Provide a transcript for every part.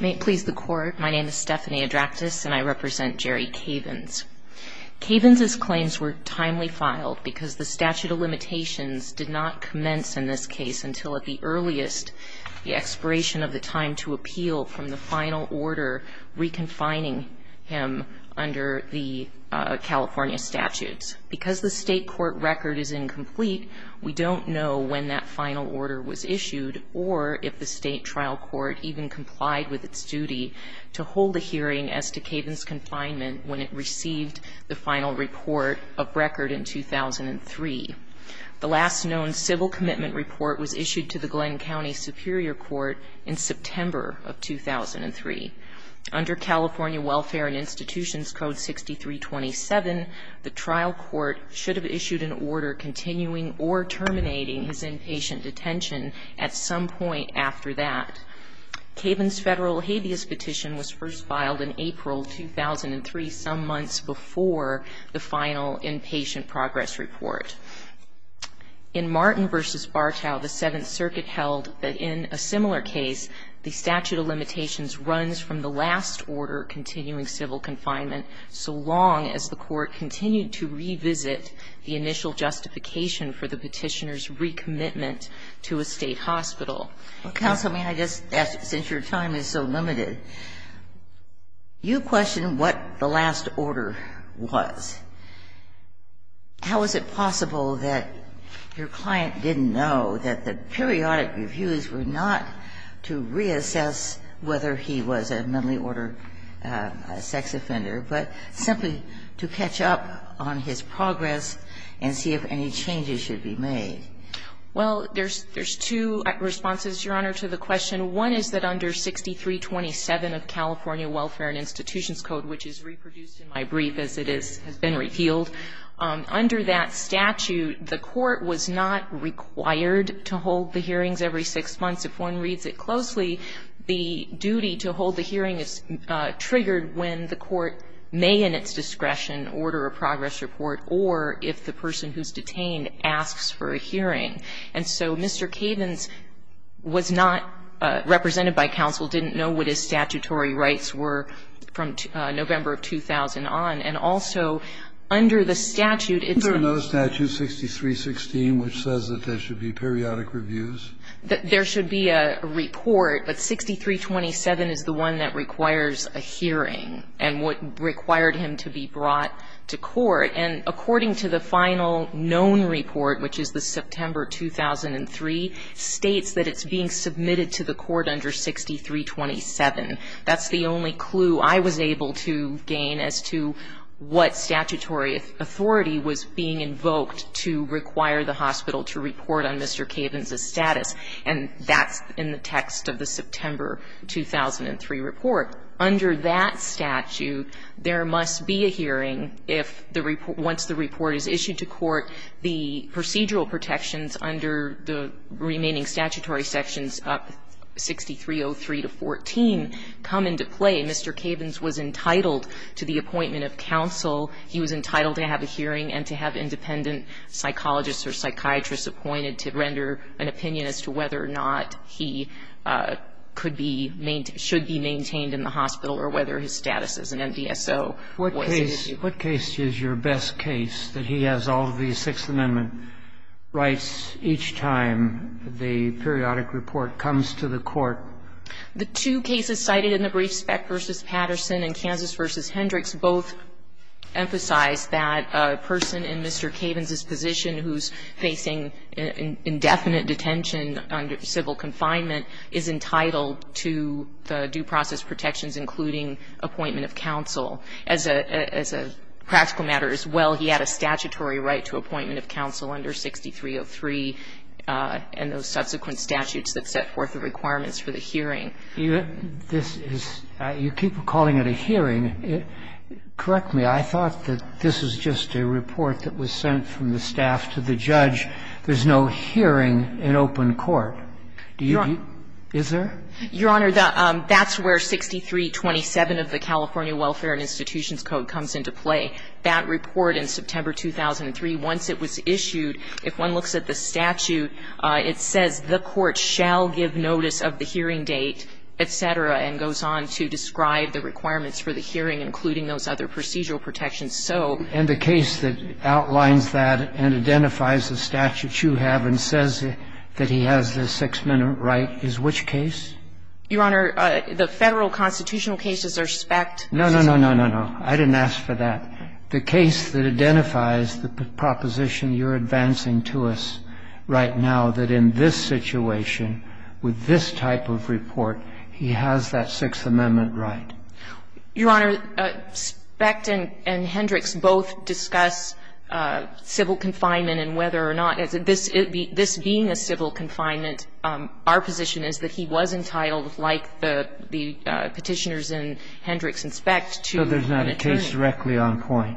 May it please the court, my name is Stephanie Adraktis and I represent Jerry Cavins. Cavins' claims were timely filed because the statute of limitations did not commence in this case until at the earliest the expiration of the time to appeal from the final order reconfining him under the California statutes. Because the state court record is incomplete, we don't know when that final order was issued or if the state trial court even complied with its duty to hold a hearing as to Cavins' confinement when it received the final report of record in 2003. The last known civil commitment report was issued to the Glenn County Superior Court in September of 2003. Under California Welfare and Institutions Code 6327, the trial court should have issued an order continuing or terminating his inpatient detention at some point after that. Cavins' federal habeas petition was first filed in April 2003, some months before the final inpatient progress report. In Martin v. Bartow, the Seventh Circuit held that in a similar case, the statute of limitations runs from the last order continuing civil confinement so long as the court continued to revisit the initial justification for the petitioner's recommitment to a state hospital. Kagan. Well, Counsel, I mean, I just ask, since your time is so limited, you question what the last order was. How is it possible that your client didn't know that the periodic reviews were not to reassess whether he was a mentally ordered sex offender, but simply to catch up on his progress and see if any changes should be made? Well, there's two responses, Your Honor, to the question. One is that under 6327 of California Welfare and Institutions Code, which is reproduced in my brief as it has been revealed, under that statute, the court was not required to hold the hearings every six months. If one reads it closely, the duty to hold the hearing is triggered when the court may in its discretion order a progress report or if the person who's detained asks for a hearing. And so Mr. Cavens was not represented by counsel, didn't know what his statutory rights were from November of 2000 on. And also under the statute, it's a no statute, 6316, which says that there should be periodic reviews. There should be a report, but 6327 is the one that requires a hearing and what required him to be brought to court. And according to the final known report, which is the September 2003, states that it's being submitted to the court under 6327. That's the only clue I was able to gain as to what statutory authority was being And that's in the text of the September 2003 report. Under that statute, there must be a hearing if the report, once the report is issued to court, the procedural protections under the remaining statutory sections, 6303 to 14, come into play. Mr. Cavens was entitled to the appointment of counsel. He was entitled to have a hearing and to have independent psychologists or psychiatrists appointed to render an opinion as to whether or not he could be maintained or should be maintained in the hospital or whether his status as an MDSO was an issue. What case is your best case that he has all of these Sixth Amendment rights each time the periodic report comes to the court? The two cases cited in the brief, Speck v. Patterson and Kansas v. Hendricks, both emphasize that a person in Mr. Cavens's position who's facing indefinite detention under civil confinement is entitled to the due process protections, including appointment of counsel. As a practical matter as well, he had a statutory right to appointment of counsel under 6303 and those subsequent statutes that set forth the requirements for the hearing. This is you keep calling it a hearing. Correct me. I thought that this was just a report that was sent from the staff to the judge. There's no hearing in open court. Do you? Is there? Your Honor, that's where 6327 of the California Welfare and Institutions Code comes into play. That report in September 2003, once it was issued, if one looks at the statute, it says the court shall give notice of the hearing date, et cetera, and goes on to describe the requirements for the hearing, including those other procedural protections. So the case that outlines that and identifies the statute you have and says that he has the six-minute right is which case? Your Honor, the Federal constitutional cases are Speck. No, no, no, no, no, no. I didn't ask for that. The case that identifies the proposition you're advancing to us right now, that in this situation, with this type of report, he has that Sixth Amendment right. Your Honor, Speck and Hendricks both discuss civil confinement and whether or not this being a civil confinement, our position is that he was entitled, like the Petitioners in Hendricks and Speck, to an attorney. So there's not a case directly on point?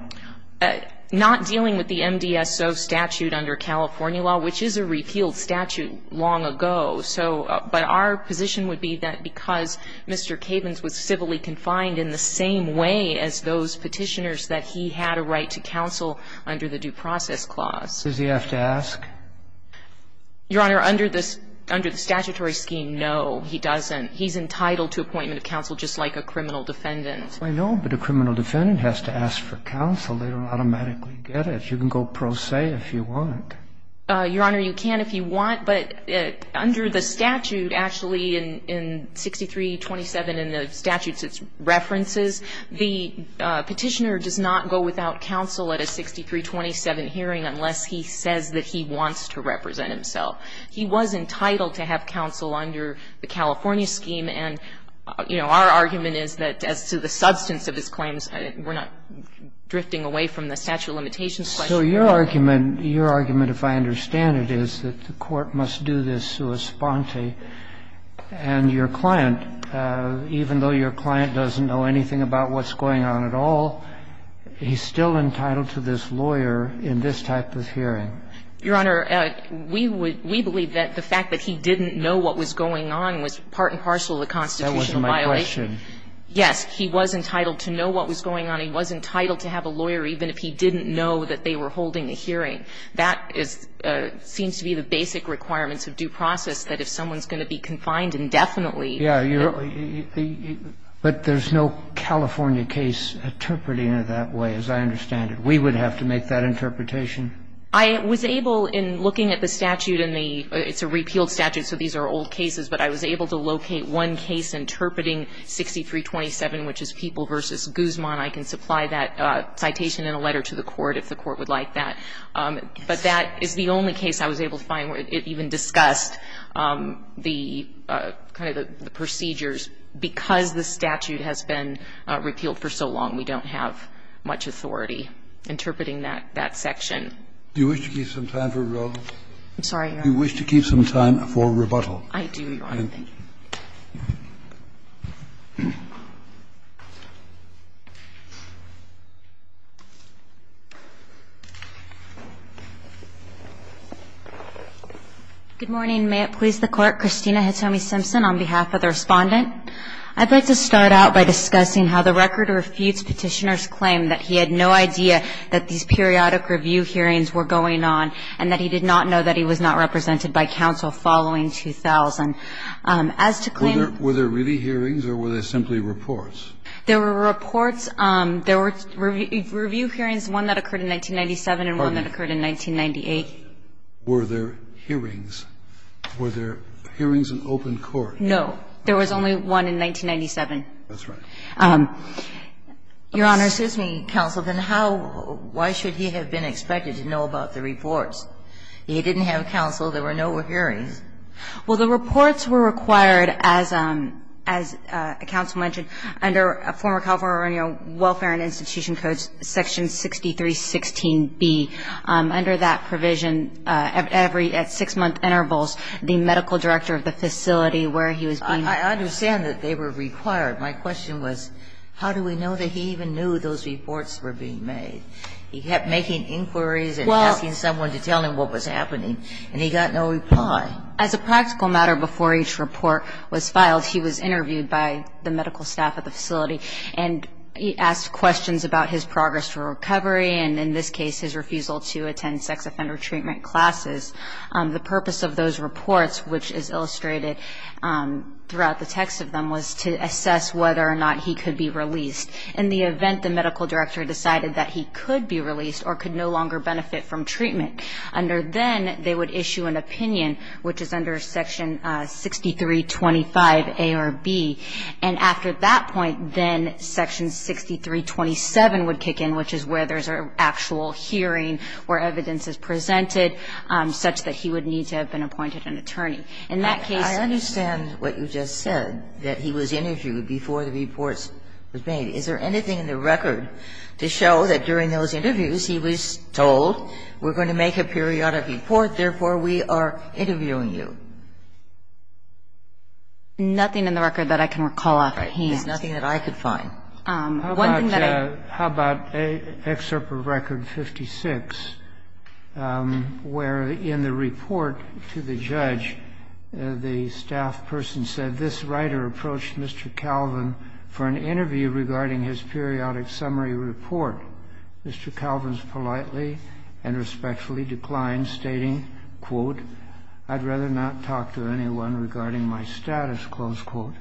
Not dealing with the MDSO statute under California law, which is a repealed statute long ago. So, but our position would be that because Mr. Cavens was civilly confined in the same way as those Petitioners, that he had a right to counsel under the Due Process Clause. Does he have to ask? Your Honor, under the statutory scheme, no, he doesn't. He's entitled to appointment of counsel just like a criminal defendant. I know, but a criminal defendant has to ask for counsel. They don't automatically get it. You can go pro se if you want. Your Honor, you can if you want, but under the statute, actually, in 6327 in the statutes, it's references. The Petitioner does not go without counsel at a 6327 hearing unless he says that he wants to represent himself. He was entitled to have counsel under the California scheme, and, you know, our argument is that as to the substance of his claims, we're not drifting away from the statute limitations question. So your argument, your argument, if I understand it, is that the court must do this sua sponte, and your client, even though your client doesn't know anything about what's going on at all, he's still entitled to this lawyer in this type of hearing. Your Honor, we would we believe that the fact that he didn't know what was going on was part and parcel of the constitutional violation. That wasn't my question. Yes. He was entitled to know what was going on. He was entitled to have a lawyer, even if he didn't know that they were holding a hearing. That is seems to be the basic requirements of due process, that if someone's going to be confined indefinitely. Yeah. But there's no California case interpreting it that way, as I understand it. We would have to make that interpretation? I was able, in looking at the statute and the – it's a repealed statute, so these are old cases, but I was able to locate one case interpreting 6327, which is People v. Guzman. I can supply that citation in a letter to the court, if the court would like that. But that is the only case I was able to find where it even discussed the kind of the procedures. Because the statute has been repealed for so long, we don't have much authority interpreting that section. Do you wish to keep some time for rebuttal? I'm sorry, Your Honor. Do you wish to keep some time for rebuttal? I do, Your Honor. Thank you. Good morning. May it please the Court. Christina Hitomi Simpson on behalf of the Respondent. I'd like to start out by discussing how the record refutes Petitioner's claim that he had no idea that these periodic review hearings were going on, and that he did not know that he was not represented by counsel following 2000. Were there really hearings, or were there simply reports? There were reports. There were review hearings, one that occurred in 1997 and one that occurred in 1998. Were there hearings? Were there hearings in open court? No. There was only one in 1997. That's right. Your Honor, excuse me, counsel. Then how why should he have been expected to know about the reports? He didn't have counsel. There were no hearings. Well, the reports were required, as counsel mentioned, under former California Welfare and Institution Codes, Section 6316B. Under that provision, at six-month intervals, the medical director of the facility where he was being ---- I understand that they were required. My question was, how do we know that he even knew those reports were being made? He kept making inquiries and asking someone to tell him what was happening, and he got no reply. As a practical matter, before each report was filed, he was interviewed by the medical staff at the facility, and he asked questions about his progress for recovery and, in this case, his refusal to attend sex offender treatment classes. The purpose of those reports, which is illustrated throughout the text of them, was to assess whether or not he could be released. In the event the medical director decided that he could be released or could no longer benefit from treatment, under then, they would issue an opinion, which is under Section 6325A or B. And after that point, then Section 6327 would kick in, which is where there's an actual hearing where evidence is presented, such that he would need to have been appointed an attorney. In that case ---- I understand what you just said, that he was interviewed before the reports were made. Is there anything in the record to show that during those interviews he was told we're going to make a periodic report, therefore we are interviewing you? Nothing in the record that I can recall offhand. Right. There's nothing that I could find. One thing that I ---- How about an excerpt from Record 56, where in the report to the judge, the staff person said, this writer approached Mr. Calvin for an interview regarding his periodic summary report. Mr. Calvin's politely and respectfully declined, stating, quote, I'd rather not talk to anyone regarding my status, close quote.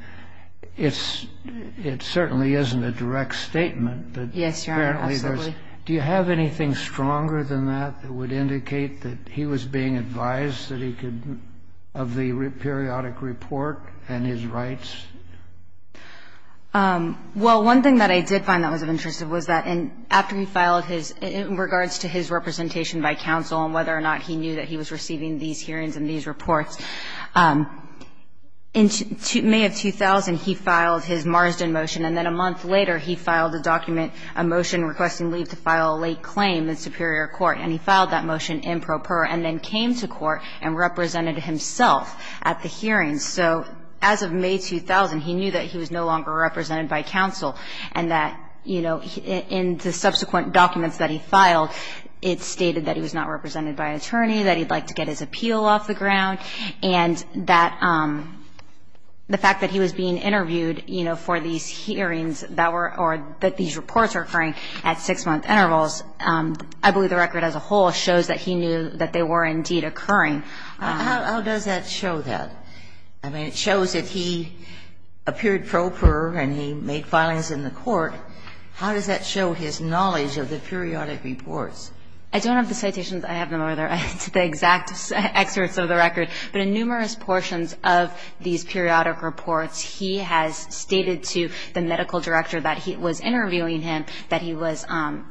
It certainly isn't a direct statement that apparently there's ---- Yes, Your Honor, absolutely. Do you have anything stronger than that that would indicate that he was being advised that he could ---- of the periodic report and his rights? Well, one thing that I did find that was of interest was that in ---- after he filed his ---- in regards to his representation by counsel and whether or not he knew that he was receiving these hearings and these reports, in May of 2000, he filed his Marsden motion, and then a month later, he filed a document, a motion requesting leave to file a late claim in superior court. And he filed that motion improper and then came to court and represented himself at the hearings. So as of May 2000, he knew that he was no longer represented by counsel and that, you know, in the subsequent documents that he filed, it stated that he was not represented by an attorney, that he'd like to get his appeal off the ground, and that the fact that he was being interviewed, you know, for these hearings that were ---- or that these reports were occurring at six-month intervals, I believe the record as a whole shows that he knew that they were indeed occurring. How does that show that? I mean, it shows that he appeared proper and he made filings in the court. How does that show his knowledge of the periodic reports? I don't have the citations. I have them over there. It's the exact excerpts of the record. But in numerous portions of these periodic reports, he has stated to the medical director that he was interviewing him, that he was,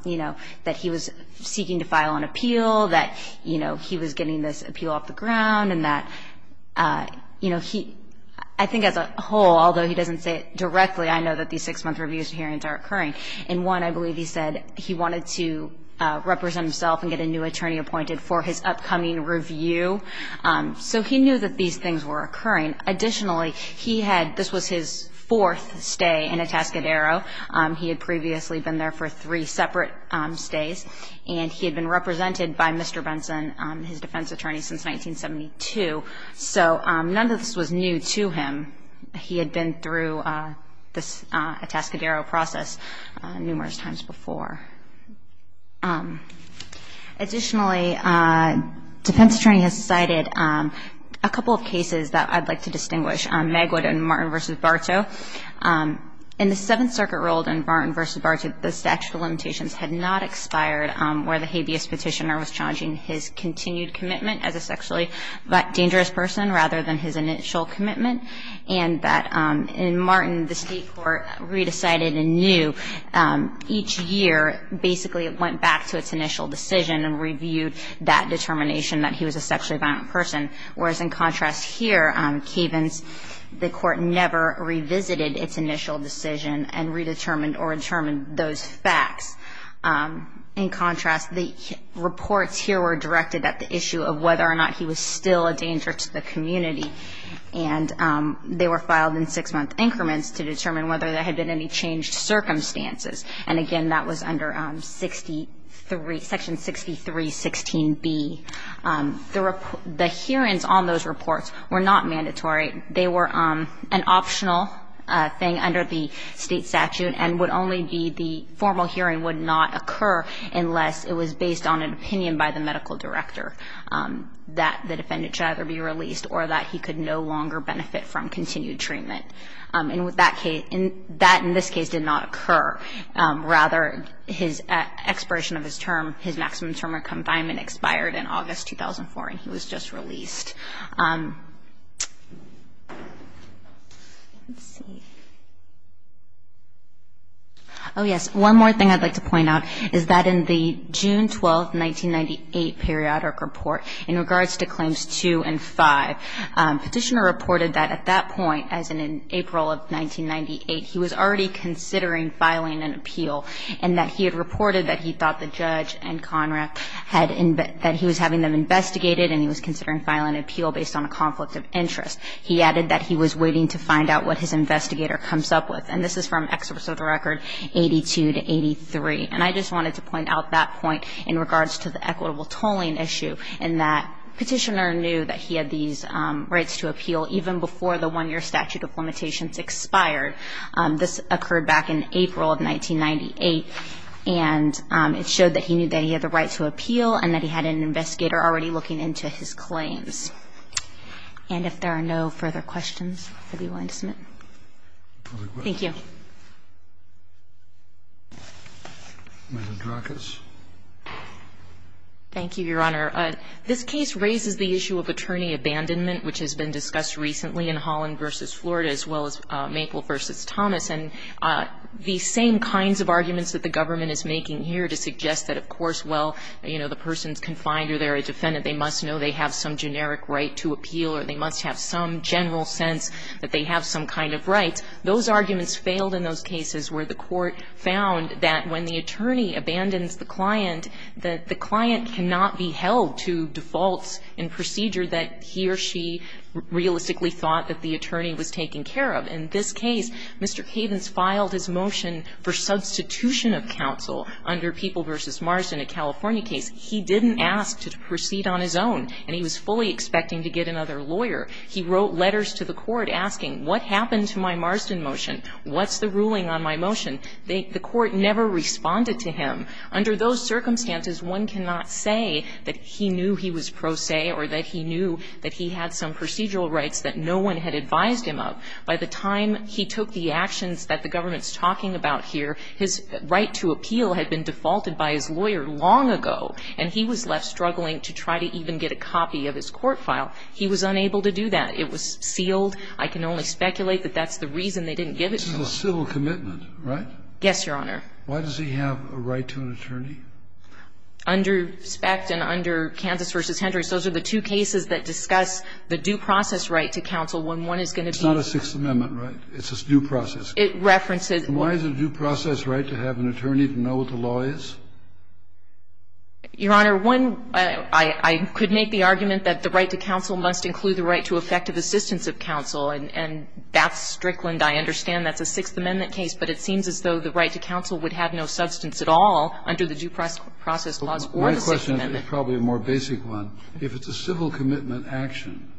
you know, that he was seeking to file an appeal, that, you know, he was getting this appeal off the ground and that, you know, he ---- I think as a whole, although he doesn't say it directly, I know that these six-month reviews hearings are occurring. And one, I believe he said he wanted to represent himself and get a new attorney appointed for his upcoming review. So he knew that these things were occurring. Additionally, he had ---- this was his fourth stay in Atascadero. He had previously been there for three separate stays. And he had been represented by Mr. Benson, his defense attorney, since 1972. So none of this was new to him. He had been through this Atascadero process numerous times before. Additionally, defense attorney has cited a couple of cases that I'd like to distinguish, Magwood and Martin v. Bartow. In the Seventh Circuit rule in Martin v. Bartow, the statute of limitations had not expired where the habeas petitioner was challenging his continued commitment as a sexually dangerous person rather than his initial commitment. And that in Martin, the state court re-decided and knew each year, basically it went back to its initial decision and reviewed that determination that he was a sexually violent person, whereas in contrast here, Kavens, the court never revisited its initial decision and redetermined or determined those facts. In contrast, the reports here were directed at the issue of whether or not he was still a danger to the community. And they were filed in six-month increments to determine whether there had been any changed circumstances. And again, that was under Section 6316B. The hearings on those reports were not mandatory. They were an optional thing under the state statute and would only be the formal hearing would not occur unless it was based on an opinion by the medical director that the defendant should either be released or that he could no longer benefit from continued treatment. And that in this case did not occur. Rather, his expiration of his term, his maximum term of confinement expired in August 2004 and he was just released. Let's see. Oh yes, one more thing I'd like to point out is that in the June 12, 1998 periodic report in regards to claims two and five, Petitioner reported that at that point, as in April of 1998, he was already considering filing an appeal and that he had reported that he thought the judge and CONRAC had been, that he was having them investigated and he was considering filing an appeal based on a conflict of interest. He added that he was waiting to find out what his investigator comes up with. And this is from Exorcist Record 82 to 83. And I just wanted to point out that point in regards to the equitable tolling issue and that Petitioner knew that he had these rights to appeal even before the one-year statute of limitations expired. This occurred back in April of 1998. And it showed that he knew that he had the right to appeal and that he had an investigator already looking into his claims. And if there are no further questions, I'll be willing to submit. Thank you. Thank you, Your Honor. This case raises the issue of attorney abandonment, which has been discussed recently in Holland v. Florida as well as Maple v. Thomas. And the same kinds of arguments that the government is making here to suggest that, of course, well, you know, the person's confined or they're a defendant, they must know they have some generic right to appeal or they must have some general sense that they have some kind of rights. Those arguments failed in those cases where the court found that when the attorney abandons the client, that the client cannot be held to defaults in procedure that he or she realistically thought that the attorney was taking care of. In this case, Mr. Cavens filed his motion for substitution of counsel under People v. Marsden, a California case. He didn't ask to proceed on his own, and he was fully expecting to get another lawyer. He wrote letters to the court asking, what happened to my Marsden motion? What's the ruling on my motion? The court never responded to him. Under those circumstances, one cannot say that he knew he was pro se or that he knew that he had some procedural rights that no one had advised him of. By the time he took the actions that the government's talking about here, his right to appeal had been defaulted by his lawyer long ago, and he was left struggling to try to even get a copy of his court file. He was unable to do that. It was sealed. I can only speculate that that's the reason they didn't give it to him. And that's a civil commitment, right? Yes, Your Honor. Why does he have a right to an attorney? Under SPECT and under Kansas v. Hendricks, those are the two cases that discuss the due process right to counsel when one is going to be ---- It's not a Sixth Amendment right. It's a due process. It references ---- Why is it a due process right to have an attorney to know what the law is? Your Honor, one, I could make the argument that the right to counsel must include the right to effective assistance of counsel, and that's Strickland. I understand that's a Sixth Amendment case, but it seems as though the right to counsel would have no substance at all under the due process laws or the Sixth Amendment. My question is probably a more basic one. If it's a civil commitment action,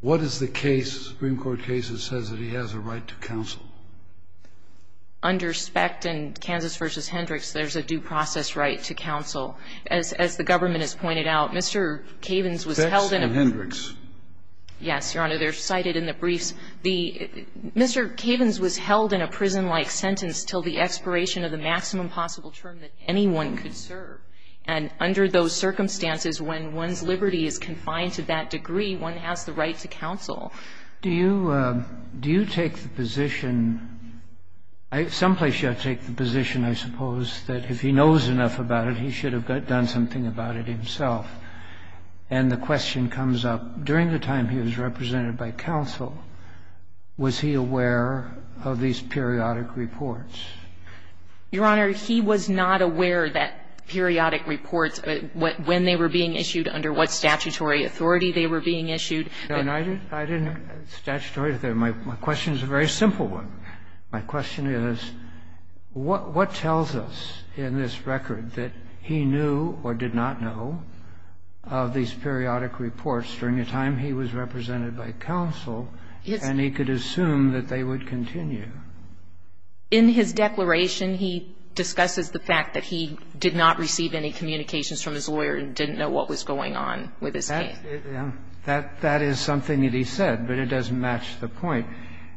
what is the case, Supreme Court case, that says that he has a right to counsel? Under SPECT and Kansas v. Hendricks, there's a due process right to counsel. As the government has pointed out, Mr. Cavens was held in a ---- SPECT and Hendricks. Yes, Your Honor. They're cited in the briefs. The ---- Mr. Cavens was held in a prison-like sentence until the expiration of the maximum possible term that anyone could serve. And under those circumstances, when one's liberty is confined to that degree, one has the right to counsel. Do you ---- do you take the position ---- someplace you ought to take the position, I suppose, that if he knows enough about it, he should have done something about it himself. And the question comes up, during the time he was represented by counsel, was he aware of these periodic reports? Your Honor, he was not aware that periodic reports, when they were being issued, under what statutory authority they were being issued. I didn't have a statutory authority. My question is a very simple one. My question is, what tells us in this record that he knew or did not know, of these periodic reports, during the time he was represented by counsel, and he could assume that they would continue? In his declaration, he discusses the fact that he did not receive any communications from his lawyer and didn't know what was going on with his case. That is something that he said, but it doesn't match the point.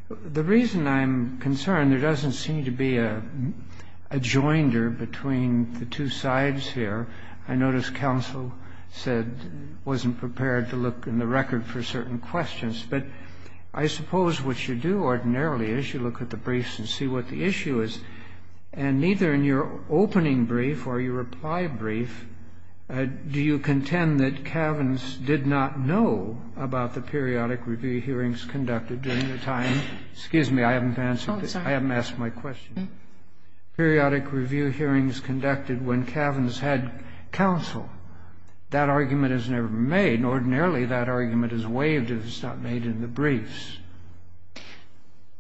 The reason I'm concerned, there doesn't seem to be a joinder between the two sides here. I notice counsel said, wasn't prepared to look in the record for certain questions. But I suppose what you do ordinarily is you look at the briefs and see what the issue is. And neither in your opening brief or your reply brief do you contend that Kavins did not know about the periodic review hearings conducted during the time. Excuse me, I haven't answered this. I haven't asked my question. Periodic review hearings conducted when Kavins had counsel. That argument is never made. Ordinarily, that argument is waived if it's not made in the briefs.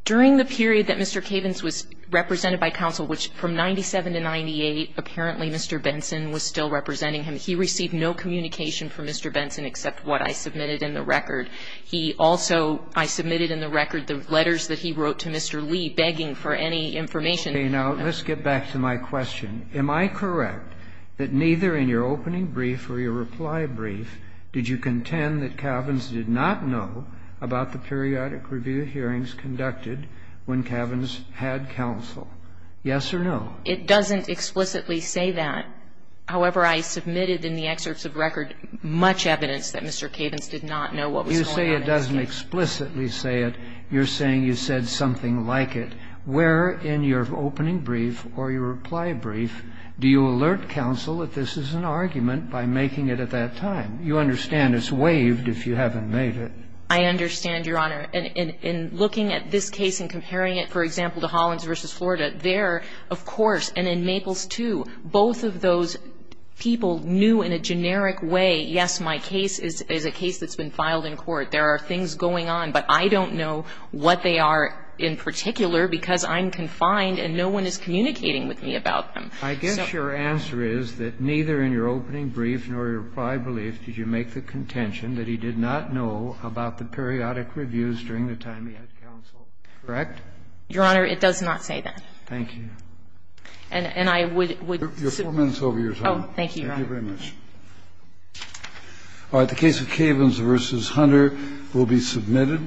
During the period that Mr. Kavins was represented by counsel, which from 97 to 98, apparently Mr. Benson was still representing him, he received no communication from Mr. Benson except what I submitted in the record. He also, I submitted in the record the letters that he wrote to Mr. Lee begging for any information. Now, let's get back to my question. Am I correct that neither in your opening brief or your reply brief did you contend that Kavins did not know about the periodic review hearings conducted when Kavins had counsel? Yes or no? It doesn't explicitly say that. However, I submitted in the excerpts of record much evidence that Mr. Kavins did not know what was going on. You say it doesn't explicitly say it. You're saying you said something like it. Where in your opening brief or your reply brief do you alert counsel that this is an argument by making it at that time? You understand it's waived if you haven't made it. I understand, Your Honor. In looking at this case and comparing it, for example, to Hollins v. Florida, there of course, and in Maples too, both of those people knew in a generic way, yes, my case is a case that's been filed in court. There are things going on. But I don't know what they are in particular because I'm confined and no one is communicating with me about them. I guess your answer is that neither in your opening brief nor your reply brief did you make the contention that he did not know about the periodic reviews during the time he had counsel, correct? Your Honor, it does not say that. Thank you. And I would submit. You have four minutes over your time. Oh, thank you, Your Honor. Thank you very much. All right. The case of Cavins v. Hunter will be submitted.